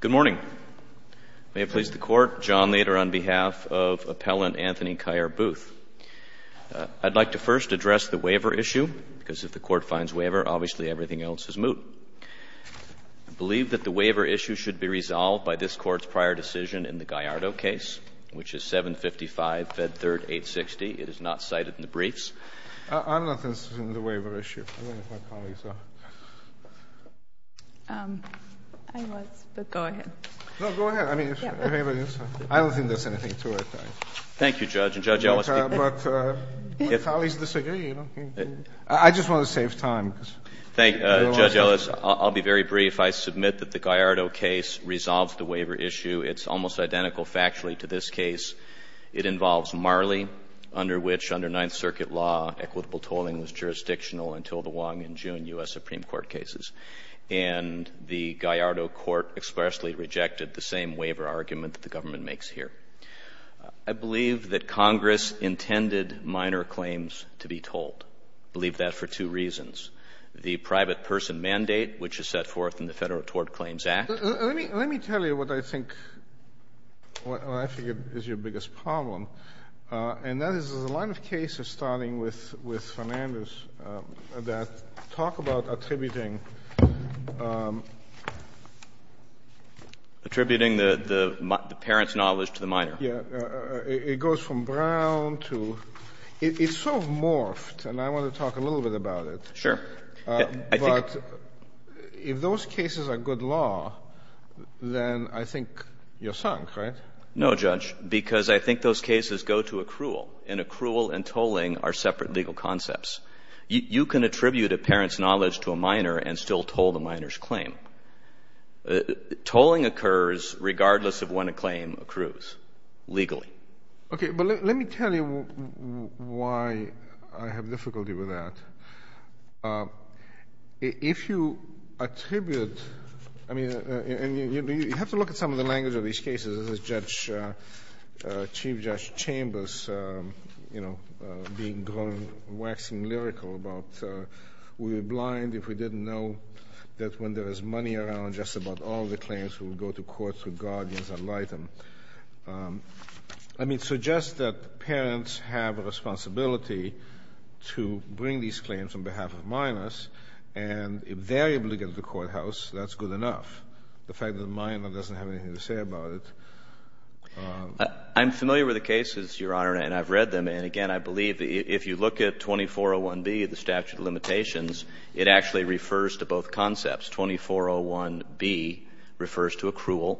Good morning. May it please the Court, John Lader on behalf of Appellant Anthony Kier Booth. I'd like to first address the waiver issue, because if the Court finds waiver, obviously everything else is moot. I believe that the waiver issue should be resolved by this Court's prior decision in the Gallardo case, which is 755, Fed 3rd, 860. It is not cited in the briefs. I'm not interested in the waiver issue. I wonder if my colleagues disagree. I just want to save time. Thank you, Judge Ellis. I'll be very brief. I submit that the Gallardo case resolves the waiver issue. It's almost identical factually to this case. It involves Marley, under which, under Ninth Circuit law, equitable tolling was jurisdictional until the Wong and June U.S. Supreme Court cases. And the Gallardo Court expressly rejected the same waiver argument that the government makes here. I believe that Congress intended minor claims to be tolled. I believe that for two reasons, the private person mandate, which is set forth in the Federal Tort Claims Act. Let me tell you what I think is your biggest problem. And that is, there's a lot of cases starting with Fernandez that talk about attributing minor claims to the federal court. Attributing the parent's knowledge to the minor. Yes. It goes from Brown to — it's sort of morphed, and I want to talk a little bit about it. Sure. But if those cases are good law, then I think you're sunk, right? No, Judge, because I think those cases go to accrual. And accrual and tolling are separate legal concepts. You can attribute a parent's knowledge to a minor and still toll the minor's claim. Tolling occurs regardless of when a claim accrues, legally. Okay. But let me tell you why I have difficulty with that. If you attribute — I mean, you have to look at some of the language of these cases. This is Chief Judge Chambers, you know, being grown, waxing lyrical about, we were blind if we didn't know that when there was money around, just about all the claims would go to courts with guardians and light them. I mean, so just that parents have a responsibility to bring these claims on behalf of minors, and if they're able to get to the courthouse, that's good enough. The fact that the minor doesn't have anything to say about it — I'm familiar with the cases, Your Honor, and I've read them. And again, I believe if you look at 2401B, the statute of limitations, it actually refers to both concepts. 2401B refers to accrual.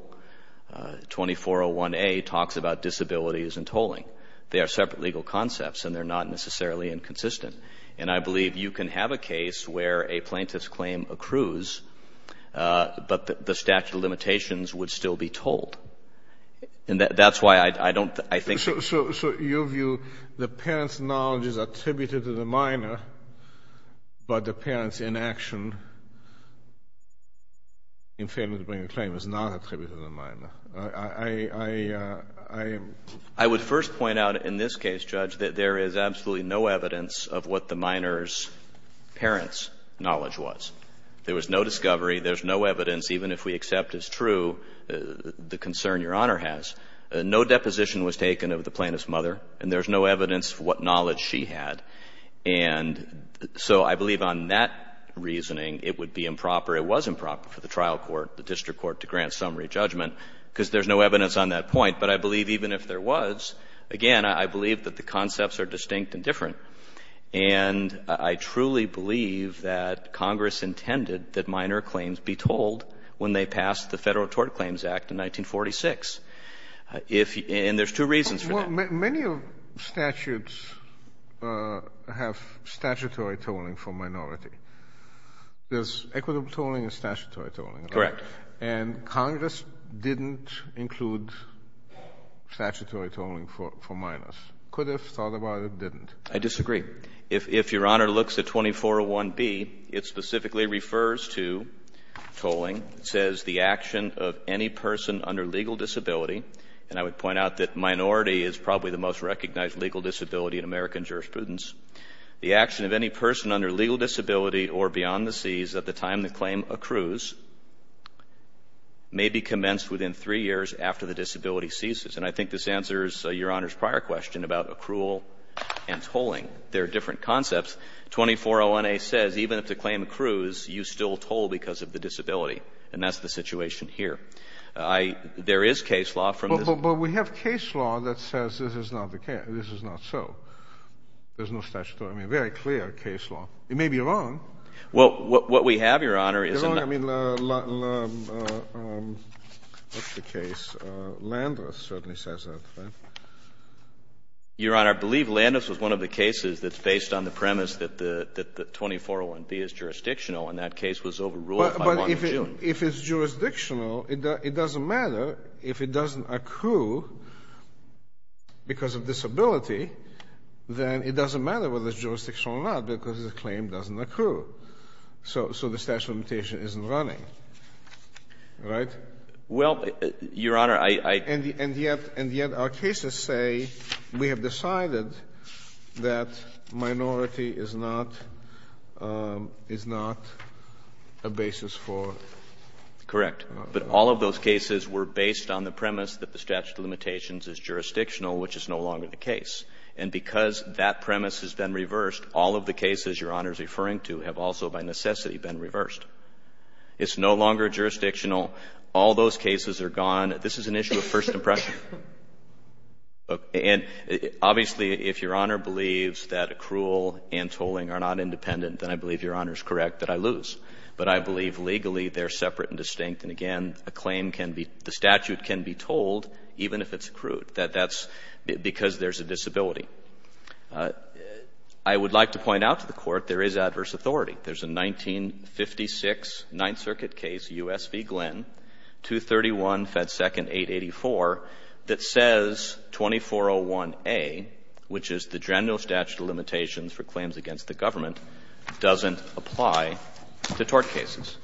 2401A talks about disabilities and tolling. They are separate legal concepts, and they're not necessarily inconsistent. And I believe you can have a case where a plaintiff's claim accrues, but the statute of limitations would still be tolled. And that's why I don't — I think — I mean, the parent's knowledge is attributed to the minor, but the parent's inaction in failing to bring a claim is not attributed to the minor. I — I would first point out in this case, Judge, that there is absolutely no evidence of what the minor's parent's knowledge was. There was no discovery. There's no evidence, even if we accept it's true, the concern Your Honor has. No deposition was taken of the plaintiff's mother, and there's no evidence for what knowledge she had. And so I believe on that reasoning, it would be improper, it was improper for the trial court, the district court, to grant summary judgment, because there's no evidence on that point. But I believe even if there was, again, I believe that the concepts are distinct and different. And I truly believe that Congress intended that minor claims be tolled when they passed the Federal Tort Claims Act in 1946. If — and there's two reasons for that. Kennedy. Well, many of statutes have statutory tolling for minority. There's equitable tolling and statutory tolling. Horwich. Correct. Kennedy. And Congress didn't include statutory tolling for minors. Could have thought about it, didn't. Horwich. I disagree. If Your Honor looks at 2401B, it specifically refers to tolling. It says, "... the action of any person under legal disability," and I would point out that minority is probably the most recognized legal disability in American jurisprudence, "... the action of any person under legal disability or beyond the seas at the time the claim accrues may be commenced within three years after the disability ceases." And I think this answers Your Honor's prior question about accrual and tolling. There are different concepts. 2401A says even if the claim accrues, you still toll because of the disability. And that's the situation here. I — there is case law from this — Kennedy. But we have case law that says this is not the case — this is not so. There's no statutory. I mean, very clear case law. It may be wrong. Horwich. Well, what we have, Your Honor, is — Kennedy. I mean, what's the case? Landis certainly says that, right? Horwich. Your Honor, I believe Landis was one of the cases that's based on the premise that the — that the 2401B is jurisdictional, and that case was overruled by 1 of June. Kennedy. But if it's jurisdictional, it doesn't matter. If it doesn't accrue because of disability, then it doesn't matter whether it's jurisdictional or not because the claim doesn't accrue. So the statute of limitation isn't running. Right? Horwich. Well, Your Honor, I — Kennedy. And yet — and yet our cases say we have decided that minority is not — is not a basis for — Horwich. Correct. But all of those cases were based on the premise that the statute of limitations is jurisdictional, which is no longer the case. And because that premise has been reversed, all of the cases Your Honor is referring to have also by necessity been reversed. It's no longer jurisdictional. All those cases are gone. This is an issue of first impression. And obviously, if Your Honor believes that accrual and tolling are not independent, then I believe Your Honor is correct that I lose. But I believe legally they're separate and distinct. And again, a claim can be — the statute can be tolled even if it's accrued. That's because there's a disability. I would like to point out to the Court there is adverse authority. There's a 1956 Ninth Circuit case, U.S. v. Glenn, 231, Fed Second, 884, that says 2401a, which is the general statute of limitations for claims against the government, doesn't apply to tort cases.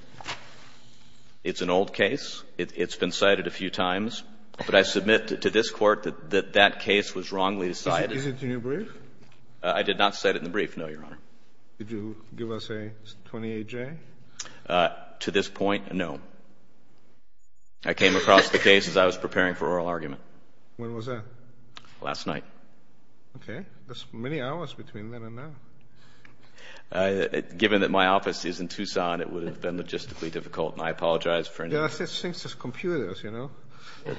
It's an old case. It's been cited a few times. But I submit to this Court that that case was wrongly decided. Is it in your brief? I did not cite it in the brief, no, Your Honor. Did you give us a 28-J? To this point, no. I came across the case as I was preparing for oral argument. When was that? Last night. Okay. That's many hours between then and now. Given that my office is in Tucson, it would have been logistically difficult. And I apologize for — There are such things as computers, you know.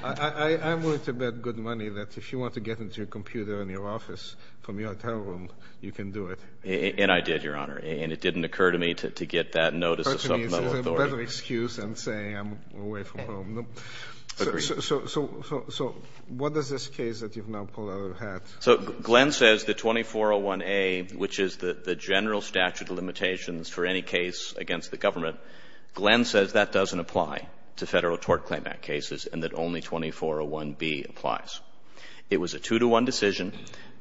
I'm willing to bet good money that if you want to get into a computer in your office from your hotel room, you can do it. And I did, Your Honor. And it didn't occur to me to get that notice of supplemental authority. It's a better excuse than saying I'm away from home. Agreed. So what is this case that you've now pulled out of your hat? So Glenn says that 2401a, which is the general statute of limitations for any case against the government, Glenn says that doesn't apply to Federal tort claimant cases, and that only 2401b applies. It was a two-to-one decision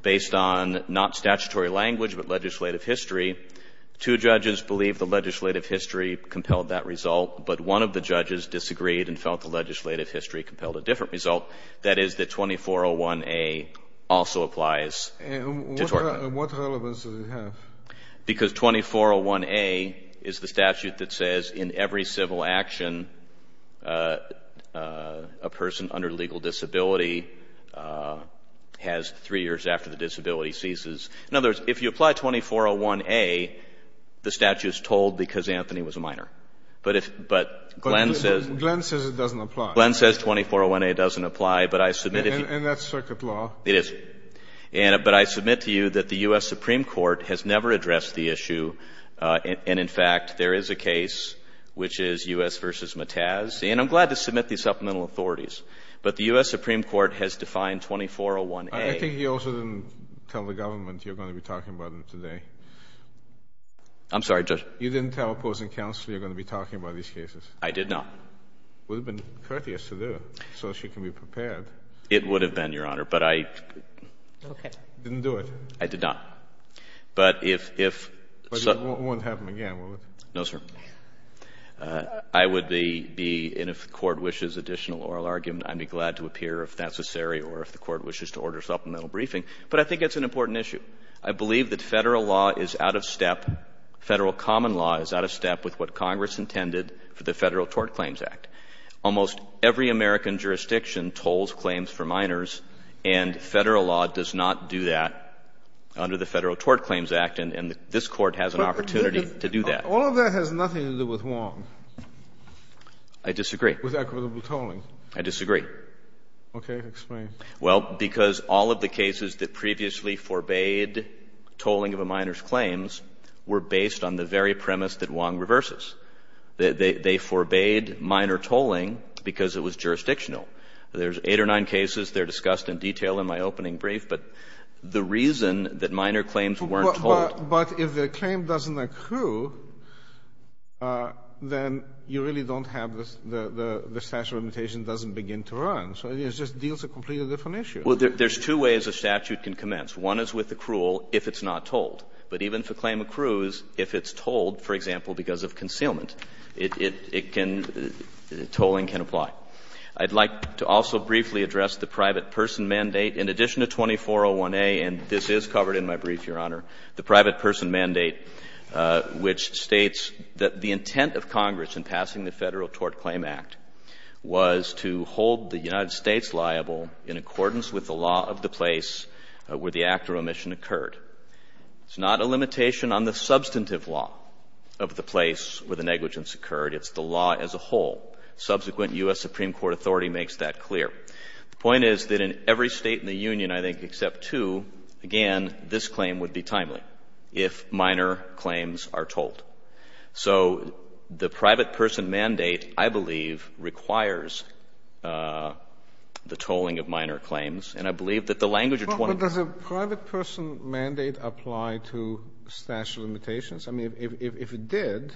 based on not statutory language but legislative history. Two judges believed the legislative history compelled that result, but one of the judges disagreed and felt the legislative history compelled a different result. That is that 2401a also applies to tort. And what relevance does it have? Because 2401a is the statute that says in every civil action a person under legal disability has three years after the disability ceases. In other words, if you apply 2401a, the statute is told because Anthony was a minor. But Glenn says it doesn't apply. Glenn says 2401a doesn't apply. And that's circuit law. It is. But I submit to you that the U.S. Supreme Court has never addressed the issue. And, in fact, there is a case, which is U.S. v. Mataz. And I'm glad to submit these supplemental authorities. But the U.S. Supreme Court has defined 2401a. I think you also didn't tell the government you're going to be talking about it today. I'm sorry, Judge. You didn't tell opposing counsel you're going to be talking about these cases. I did not. It would have been courteous to do, so she can be prepared. It would have been, Your Honor, but I didn't. Okay. You didn't do it. I did not. But if so But it won't happen again, will it? No, sir. I would be, and if the Court wishes additional oral argument, I'd be glad to appear, if necessary, or if the Court wishes to order supplemental briefing. But I think it's an important issue. I believe that Federal law is out of step, Federal common law is out of step, with what Congress intended for the Federal Tort Claims Act. Almost every American jurisdiction tolls claims for minors, and Federal law does not do that under the Federal Tort Claims Act. And this Court has an opportunity to do that. All of that has nothing to do with Wong. I disagree. With equitable tolling. I disagree. Okay. Explain. Well, because all of the cases that previously forbade tolling of a minor's claims were based on the very premise that Wong reverses. They forbade minor tolling because it was jurisdictional. There's eight or nine cases. But the reason that minor claims weren't told But if the claim doesn't accrue, then you really don't have the statute of limitations doesn't begin to run. So it just deals a completely different issue. Well, there's two ways a statute can commence. One is with accrual if it's not tolled. But even if a claim accrues, if it's tolled, for example, because of concealment, it can, tolling can apply. I'd like to also briefly address the private person mandate. In addition to 2401A, and this is covered in my brief, Your Honor, the private person mandate, which states that the intent of Congress in passing the Federal Tort Claim Act was to hold the United States liable in accordance with the law of the place where the act of omission occurred. It's not a limitation on the substantive law of the place where the negligence occurred. It's the law as a whole. Subsequent U.S. Supreme Court authority makes that clear. The point is that in every State in the Union, I think, except two, again, this claim would be timely if minor claims are tolled. So the private person mandate, I believe, requires the tolling of minor claims. And I believe that the language of 2401A ---- But does a private person mandate apply to statute of limitations? I mean, if it did,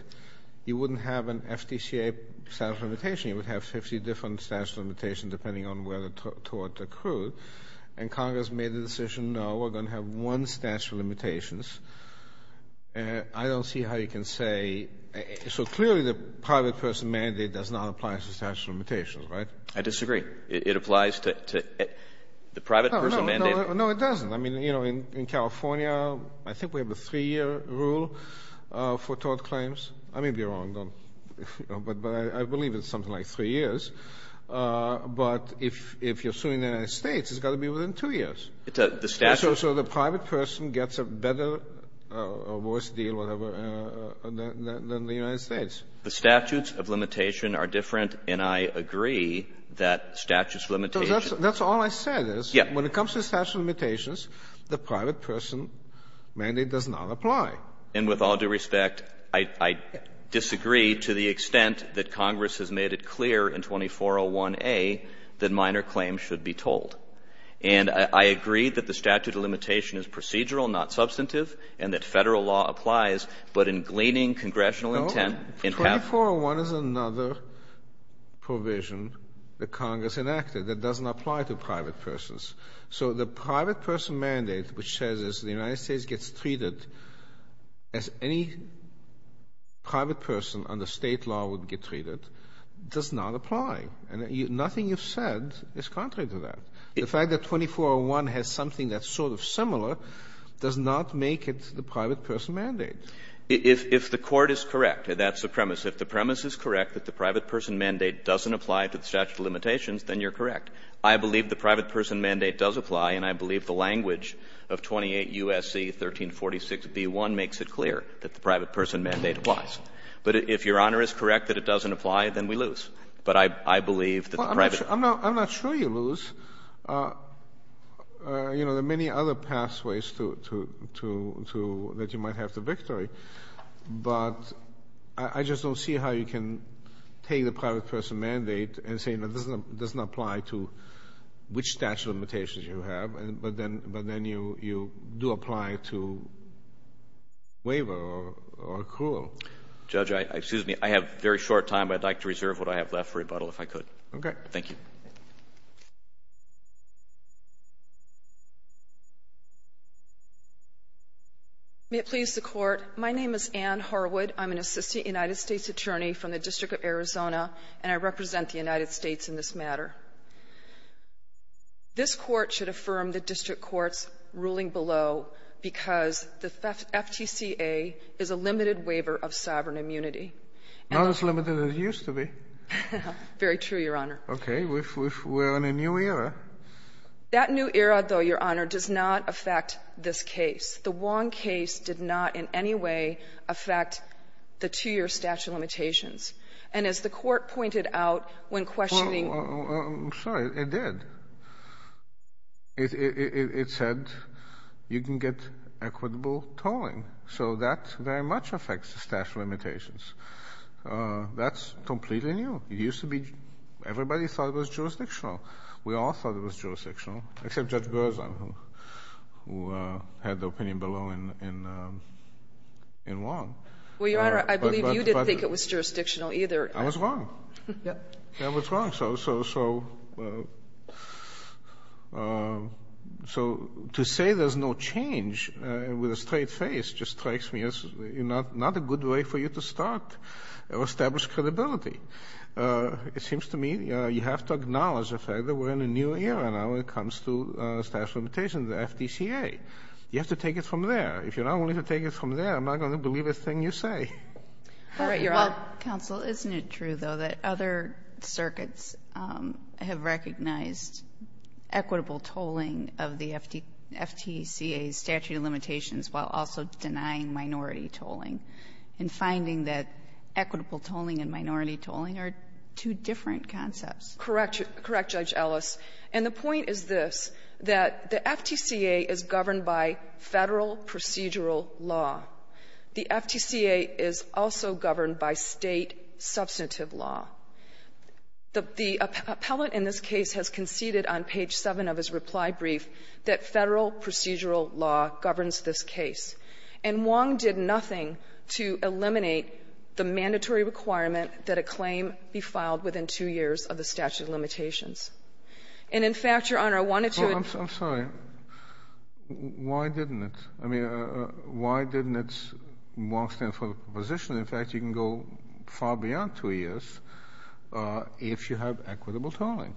you wouldn't have an FTCA statute of limitation. You would have 50 different statute of limitations depending on where the tort occurred. And Congress made the decision, no, we're going to have one statute of limitations. I don't see how you can say ---- So clearly the private person mandate does not apply to statute of limitations, right? I disagree. It applies to the private person mandate. No, it doesn't. I mean, you know, in California, I think we have a 3-year rule for tort claims. I may be wrong. But I believe it's something like 3 years. But if you're suing the United States, it's got to be within 2 years. So the private person gets a better or worse deal than the United States. The statutes of limitation are different, and I agree that statutes of limitation ---- That's all I said is, when it comes to statute of limitations, the private person mandate does not apply. And with all due respect, I disagree to the extent that Congress has made it clear in 2401A that minor claims should be told. And I agree that the statute of limitation is procedural, not substantive, and that Federal law applies. But in gleaning congressional intent ---- No. 2401 is another provision that Congress enacted that doesn't apply to private persons. So the private person mandate, which says the United States gets treated as any private person under State law would get treated, does not apply. And nothing you've said is contrary to that. The fact that 2401 has something that's sort of similar does not make it the private person mandate. If the Court is correct, that's the premise. If the premise is correct, that the private person mandate doesn't apply to the statute of limitations, then you're correct. I believe the private person mandate does apply, and I believe the language of 28 U.S.C. 1346b1 makes it clear that the private person mandate applies. But if Your Honor is correct that it doesn't apply, then we lose. But I believe that the private ---- I'm not sure you lose. You know, there are many other pathways to ---- that you might have to victory. But I just don't see how you can take the private person mandate and say it doesn't apply to which statute of limitations you have, but then you do apply to waiver or accrual. Judge, excuse me. I have very short time. I'd like to reserve what I have left for rebuttal if I could. Okay. Thank you. May it please the Court. My name is Ann Harwood. I'm an assistant United States attorney from the District of Arizona, and I represent the United States in this matter. This Court should affirm the district court's ruling below because the FTCA is a limited waiver of sovereign immunity. Not as limited as it used to be. Very true, Your Honor. Okay. We're in a new era. That new era, though, Your Honor, does not affect this case. The Wong case did not in any way affect the two-year statute of limitations. And as the Court pointed out when questioning — I'm sorry. It did. It said you can get equitable tolling. So that very much affects the statute of limitations. That's completely new. It used to be everybody thought it was jurisdictional. We all thought it was jurisdictional, except Judge Berzon, who had the opinion below in Wong. Well, Your Honor, I believe you didn't think it was jurisdictional either. I was wrong. Yeah. I was wrong. So to say there's no change with a straight face just strikes me as not a good way for you to start or establish credibility. It seems to me you have to acknowledge the fact that we're in a new era now when it comes to statute of limitations, the FTCA. You have to take it from there. If you're not willing to take it from there, I'm not going to believe a thing you say. All right, Your Honor. Counsel, isn't it true, though, that other circuits have recognized equitable tolling of the FTCA's statute of limitations while also denying minority tolling and finding that equitable tolling and minority tolling are two different concepts? Correct, Judge Ellis. And the point is this, that the FTCA is governed by Federal procedural law. The FTCA is also governed by State substantive law. The appellate in this case has conceded on page 7 of his reply brief that Federal procedural law governs this case, and Wong did nothing to eliminate the mandatory requirement that a claim be filed within two years of the statute of limitations. And, in fact, Your Honor, I wanted to address this. I'm sorry. Why didn't it? I mean, why didn't Wong stand for the proposition that, in fact, you can go far beyond two years if you have equitable tolling?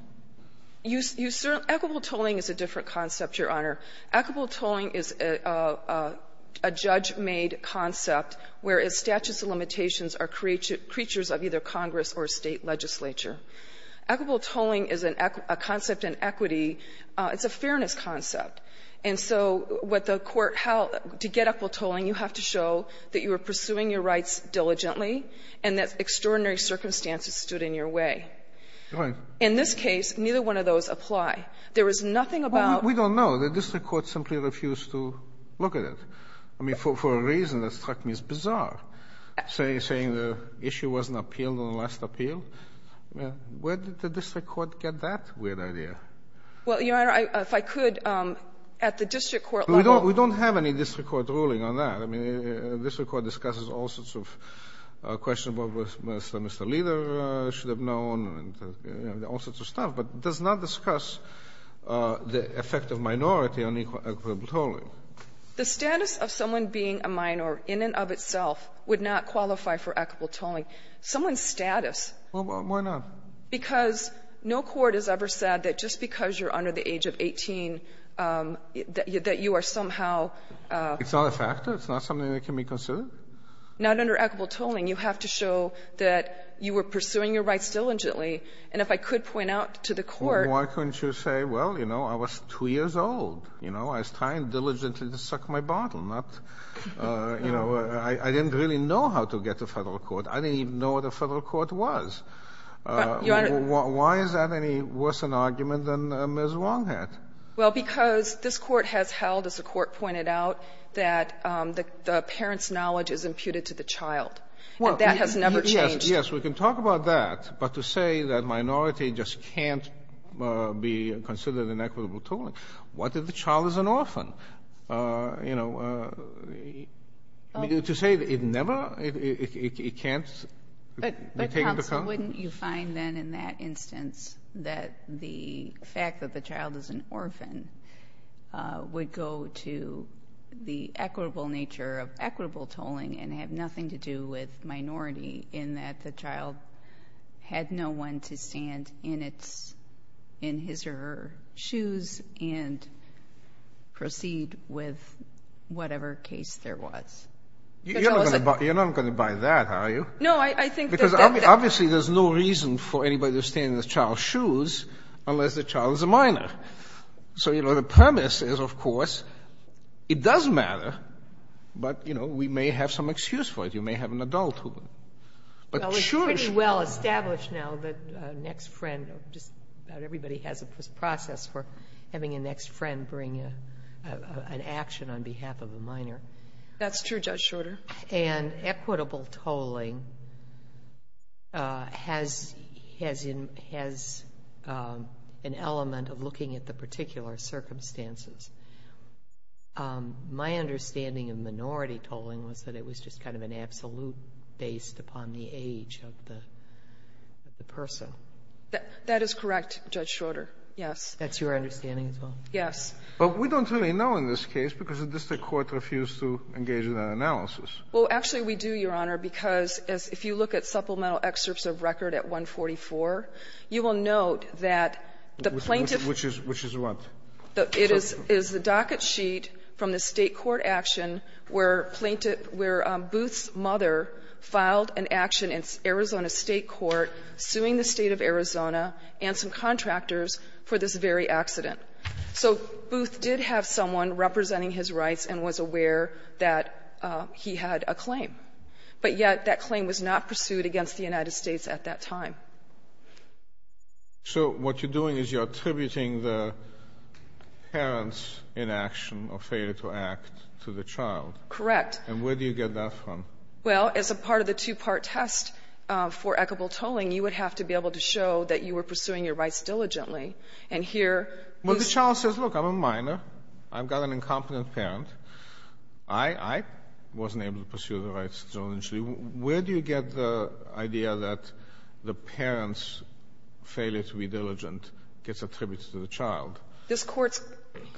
Equitable tolling is a different concept, Your Honor. Equitable tolling is a judge-made concept, whereas statutes of limitations are creatures of either Congress or State legislature. Equitable tolling is a concept in equity. It's a fairness concept. And so what the Court held, to get equitable tolling, you have to show that you were pursuing your rights diligently and that extraordinary circumstances stood in your way. In this case, neither one of those apply. There was nothing about the district court simply refused to look at it. I mean, for a reason that struck me as bizarre, saying the issue wasn't appealed on the last appeal. Where did the district court get that weird idea? Well, Your Honor, if I could, at the district court level. We don't have any district court ruling on that. I mean, the district court discusses all sorts of questions about what Mr. and Mr. Leader should have known and all sorts of stuff, but does not discuss the effect of minority on equitable tolling. The status of someone being a minor in and of itself would not qualify for equitable tolling. Someone's status. Well, why not? Because no court has ever said that just because you're under the age of 18 that you are somehow. It's not a factor. It's not something that can be considered. Not under equitable tolling. You have to show that you were pursuing your rights diligently. And if I could point out to the Court. Well, why couldn't you say, well, you know, I was 2 years old. You know, I was trying diligently to suck my bottle, not, you know, I didn't really know how to get to Federal court. I didn't even know what a Federal court was. But, Your Honor. Why is that any worse an argument than Ms. Wong had? Well, because this Court has held, as the Court pointed out, that the parent's knowledge is imputed to the child. And that has never changed. Yes. Yes. We can talk about that. But to say that minority just can't be considered in equitable tolling. What if the child is an orphan? You know, to say it never, it can't be taken into account. But, counsel, wouldn't you find then in that instance that the fact that the child is an orphan would go to the equitable nature of equitable tolling and have nothing to do with minority in that the child had no one to stand in his or her shoes and proceed with whatever case there was? You're not going to buy that, are you? No. I think that. Because obviously there's no reason for anybody to stand in the child's shoes unless the child is a minor. So, you know, the premise is, of course, it does matter. But, you know, we may have some excuse for it. You may have an adult who. Well, it's pretty well established now that next friend, just about everybody has a process for having a next friend bring an action on behalf of a minor. That's true, Judge Schroeder. And equitable tolling has an element of looking at the particular circumstances. My understanding of minority tolling was that it was just kind of an absolute based upon the age of the person. That is correct, Judge Schroeder. Yes. That's your understanding as well? Yes. But we don't really know in this case because the district court refused to engage in that analysis. Well, actually we do, Your Honor, because if you look at supplemental excerpts of record at 144, you will note that the plaintiff Which is what? It is the docket sheet from the State court action where plaintiff, where Booth's mother filed an action in Arizona State court suing the State of Arizona and some contractors for this very accident. So Booth did have someone representing his rights and was aware that he had a claim. But yet that claim was not pursued against the United States at that time. So what you're doing is you're attributing the parent's inaction or failure to act to the child. Correct. And where do you get that from? Well, as a part of the two-part test for equitable tolling, you would have to be able to show that you were pursuing your rights diligently. And here, Booth's mom says, look, I'm a minor. I've got an incompetent parent. I wasn't able to pursue the rights diligently. Where do you get the idea that the parent's failure to be diligent gets attributed to the child? This Court's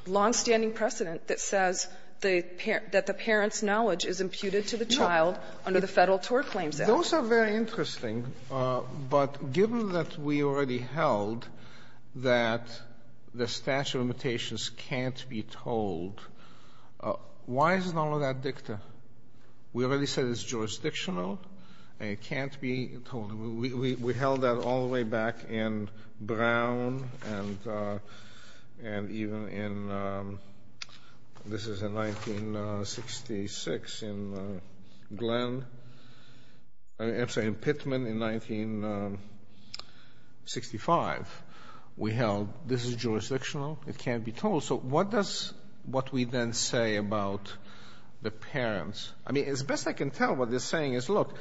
longstanding precedent that says that the parent's knowledge is imputed to the child under the Federal TOR Claims Act. Those are very interesting. But given that we already held that the statute of limitations can't be tolled why isn't all of that dicta? We already said it's jurisdictional and it can't be tolled. We held that all the way back in Brown and even in, this is in 1966 in Glenn, I'm sorry, in Pittman in 1965. We held this is jurisdictional. It can't be tolled. So what does what we then say about the parents? I mean, as best I can tell, what they're saying is, look,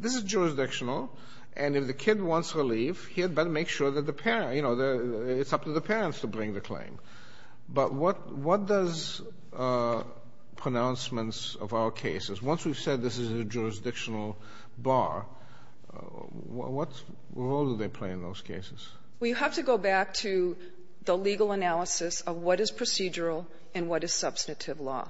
this is jurisdictional and if the kid wants relief, he had better make sure that the parent, you know, it's up to the parents to bring the claim. But what does pronouncements of our cases, once we've said this is a jurisdictional bar, what role do they play in those cases? We have to go back to the legal analysis of what is procedural and what is substantive law.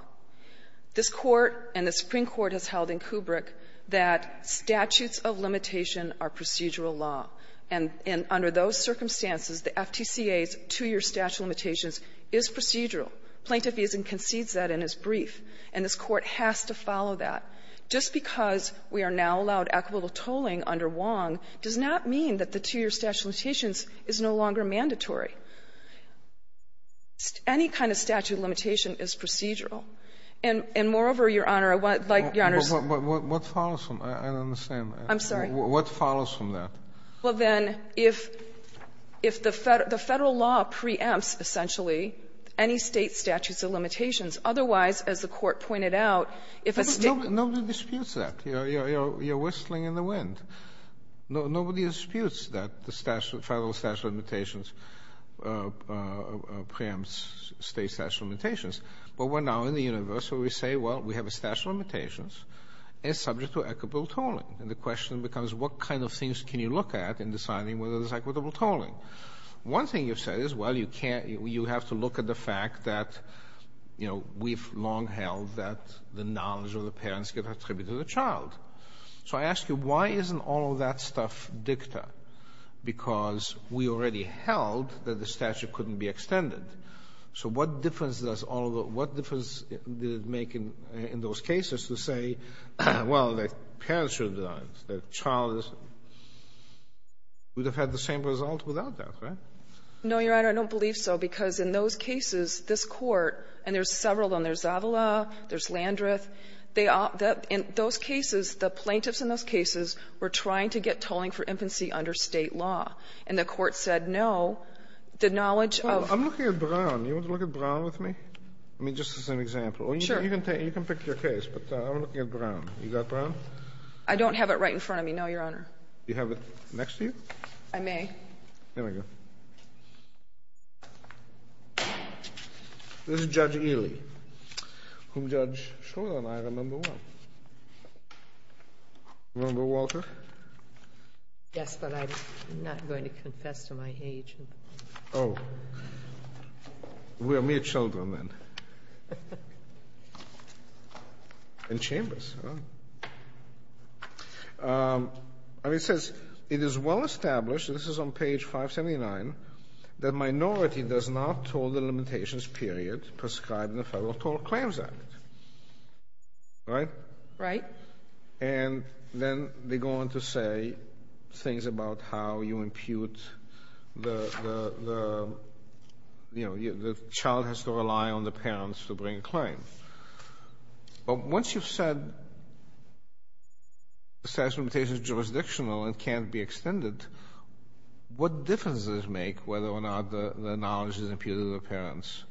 This Court and the Supreme Court has held in Kubrick that statutes of limitation are procedural law. And under those circumstances, the FTCA's two-year statute of limitations is procedural. Plaintiff even concedes that in his brief. And this Court has to follow that. Just because we are now allowed equitable tolling under Wong does not mean that the two-year statute of limitations is no longer mandatory. Any kind of statute of limitation is procedural. And moreover, Your Honor, I want to let Your Honor's ---- Kennedy, what follows from that? I don't understand. I'm sorry. What follows from that? Well, then, if the Federal law preempts, essentially, any State statutes of limitations, otherwise, as the Court pointed out, if a State ---- Nobody disputes that. You're whistling in the wind. Nobody disputes that the Federal statute of limitations preempts State statutes of limitations. But we're now in the universe where we say, well, we have a statute of limitations and it's subject to equitable tolling. And the question becomes, what kind of things can you look at in deciding whether there's equitable tolling? One thing you've said is, well, you can't ---- you have to look at the fact that, you know, we've long held that the knowledge of the parents get attributed to the child. So I ask you, why isn't all of that stuff dicta? Because we already held that the statute couldn't be extended. So what difference does all of the ---- what difference did it make in those cases to say, well, the parents should have done it, the child is ---- would have had the same result without that, right? No, Your Honor. I don't believe so, because in those cases, this Court ---- and there's several of them. There's Zavala, there's Landreth. They all ---- in those cases, the plaintiffs in those cases were trying to get tolling for infancy under State law. And the Court said no. The knowledge of ---- I'm looking at Brown. Do you want to look at Brown with me? I mean, just as an example. Or you can take ---- you can pick your case. But I'm looking at Brown. You got Brown? I don't have it right in front of me, no, Your Honor. Do you have it next to you? I may. Here we go. This is Judge Ely, whom Judge Schroeder and I remember well. Remember Walter? Yes, but I'm not going to confess to my age. Oh. We are mere children then. In Chambers. And it says, it is well established, and this is on page 579, that minority does not toll the limitations period prescribed in the Federal Toll Claims Act. Right? Right. And then they go on to say things about how you impute the, you know, the child has to rely on the parents to bring a claim. But once you've said the statute of limitations is jurisdictional and can't be extended, what difference does it make whether or not the knowledge is imputed to the parents?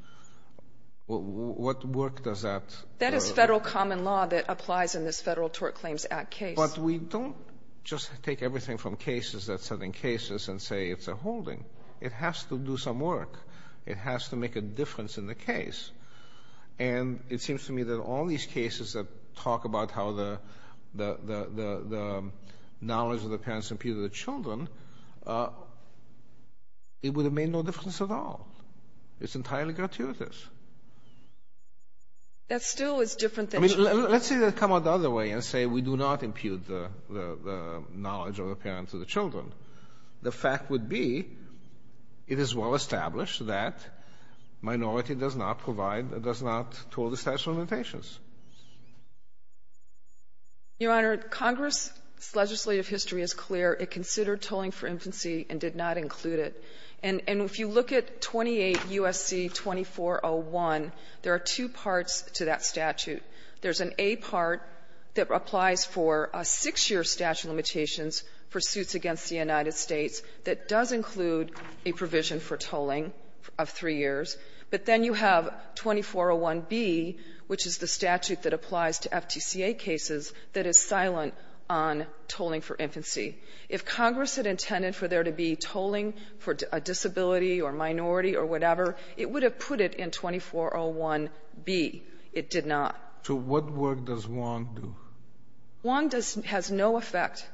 What work does that do? That is Federal common law that applies in this Federal Tort Claims Act case. But we don't just take everything from cases that's set in cases and say it's a holding. It has to do some work. It has to make a difference in the case. And it seems to me that all these cases that talk about how the knowledge of the parents impute to the children, it would have made no difference at all. It's entirely gratuitous. That still is different than... I mean, let's say they come out the other way and say we do not impute the knowledge of the parents to the children. The fact would be it is well-established that minority does not provide or does not toll the statute of limitations. Your Honor, Congress's legislative history is clear. It considered tolling for infancy and did not include it. And if you look at 28 U.S.C. 2401, there are two parts to that statute. There's an A part that applies for a six-year statute of limitations for suits against the United States that does include a provision for tolling of three years. But then you have 2401b, which is the statute that applies to FTCA cases, that is silent on tolling for infancy. If Congress had intended for there to be tolling for a disability or minority or whatever, it would have put it in 2401b. It did not. So what work does Wong do? Wong has no effect.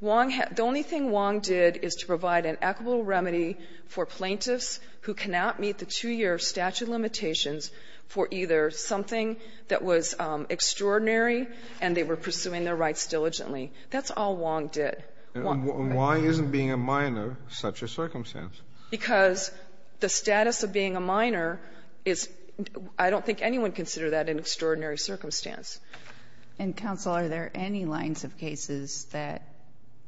Wong has the only thing Wong did is to provide an equitable remedy for plaintiffs who cannot meet the two-year statute of limitations for either something that was extraordinary and they were pursuing their rights diligently. That's all Wong did. And why isn't being a minor such a circumstance? Because the status of being a minor is — I don't think anyone would consider that an extraordinary circumstance. And, Counsel, are there any lines of cases that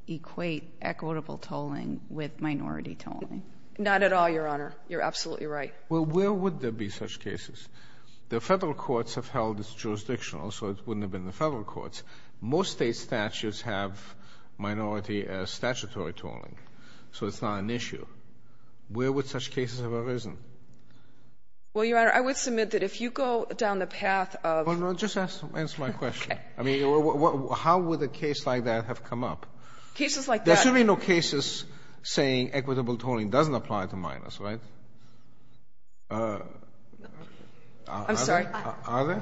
equate equitable tolling with minority tolling? Not at all, Your Honor. You're absolutely right. Well, where would there be such cases? The Federal courts have held it jurisdictional, so it wouldn't have been the Federal courts. Most State statutes have minority statutory tolling, so it's not an issue. Where would such cases have arisen? Well, Your Honor, I would submit that if you go down the path of — Well, no, just answer my question. Okay. I mean, how would a case like that have come up? Cases like that — There should be no cases saying equitable tolling doesn't apply to minors, right? I'm sorry. Are there?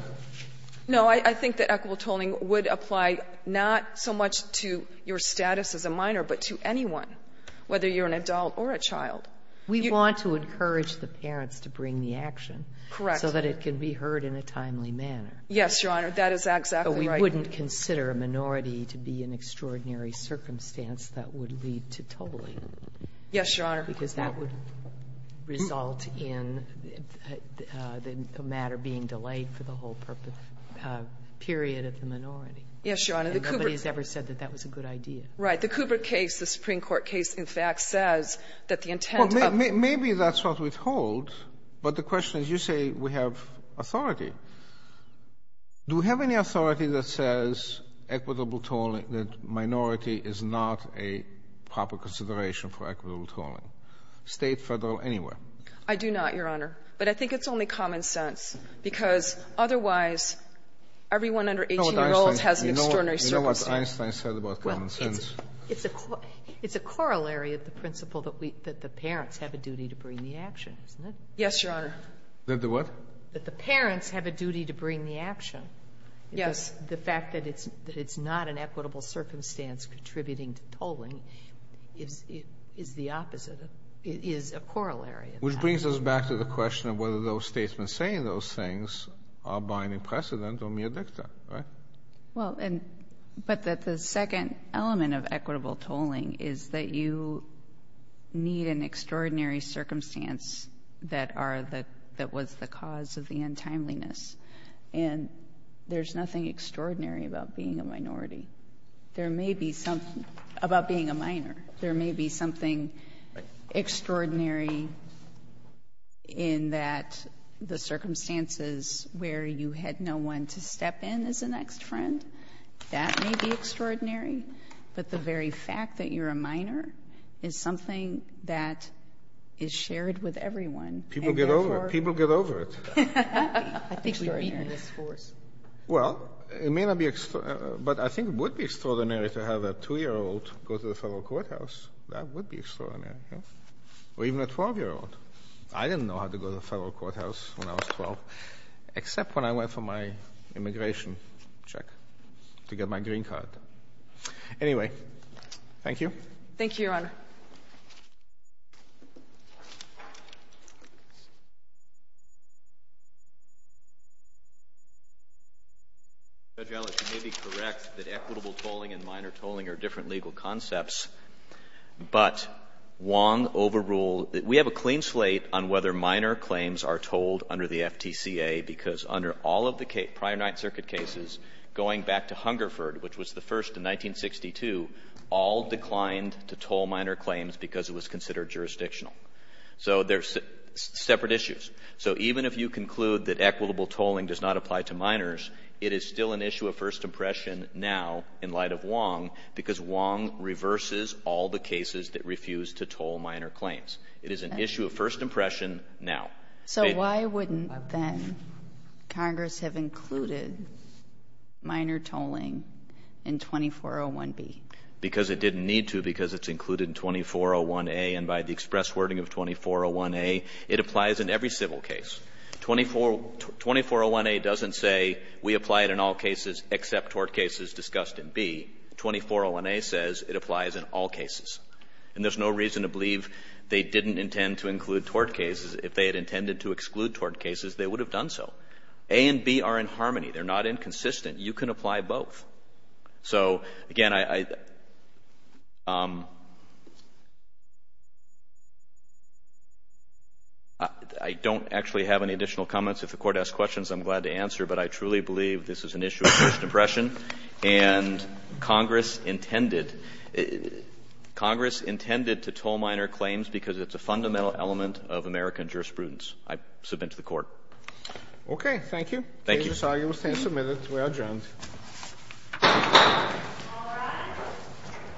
No. I think that equitable tolling would apply not so much to your status as a minor, but to anyone, whether you're an adult or a child. We want to encourage the parents to bring the action. Correct. So that it can be heard in a timely manner. Yes, Your Honor. That is exactly right. But we wouldn't consider a minority to be an extraordinary circumstance that would lead to tolling. Yes, Your Honor. Because that would result in the matter being delayed for the whole period of the minority. Yes, Your Honor. Nobody has ever said that that was a good idea. Right. But the Kubrick case, the Supreme Court case, in fact, says that the intent of — Well, maybe that's what we told, but the question is, you say we have authority. Do we have any authority that says equitable tolling, that minority is not a proper consideration for equitable tolling, State, Federal, anywhere? I do not, Your Honor. But I think it's only common sense, because otherwise, everyone under 18 years old has an extraordinary circumstance. I don't know what Einstein said about common sense. It's a corollary of the principle that the parents have a duty to bring the action, isn't it? Yes, Your Honor. That the what? That the parents have a duty to bring the action. Yes. The fact that it's not an equitable circumstance contributing to tolling is the opposite of — is a corollary of that. Which brings us back to the question of whether those Statesmen saying those things are binding precedent or mere dicta, right? Well, and — but that the second element of equitable tolling is that you need an extraordinary circumstance that are the — that was the cause of the untimeliness. And there's nothing extraordinary about being a minority. There may be something — about being a minor. There may be something extraordinary in that the circumstances where you had no one to be your best friend, that may be extraordinary. But the very fact that you're a minor is something that is shared with everyone. People get over it. People get over it. I think we've beaten this force. Well, it may not be — but I think it would be extraordinary to have a 2-year-old go to the federal courthouse. That would be extraordinary. Or even a 12-year-old. I didn't know how to go to the federal courthouse when I was 12, except when I went for my immigration check to get my green card. Anyway, thank you. Thank you, Your Honor. Judge Ellis, you may be correct that equitable tolling and minor tolling are different legal concepts. But Wong overruled — we have a clean slate on whether minor claims are tolled under the FTCA, because under all of the prior Ninth Circuit cases, going back to Hungerford, which was the first in 1962, all declined to toll minor claims because it was considered jurisdictional. So they're separate issues. So even if you conclude that equitable tolling does not apply to minors, it is still an issue of first impression now, in light of Wong, because Wong reverses all the cases that refuse to toll minor claims. It is an issue of first impression now. So why wouldn't, then, Congress have included minor tolling in 2401B? Because it didn't need to, because it's included in 2401A. And by the express wording of 2401A, it applies in every civil case. 2401A doesn't say we apply it in all cases except tort cases discussed in B. 2401A says it applies in all cases. And there's no reason to believe they didn't intend to include tort cases. If they had intended to exclude tort cases, they would have done so. A and B are in harmony. They're not inconsistent. You can apply both. So, again, I don't actually have any additional comments. If the Court asks questions, I'm glad to answer. But I truly believe this is an issue of first impression. And Congress intended to toll minor claims because it's a fundamental element of American jurisprudence. I submit to the Court. Okay. Thank you. Thank you. The case is arguably submitted. We are adjourned. All rise.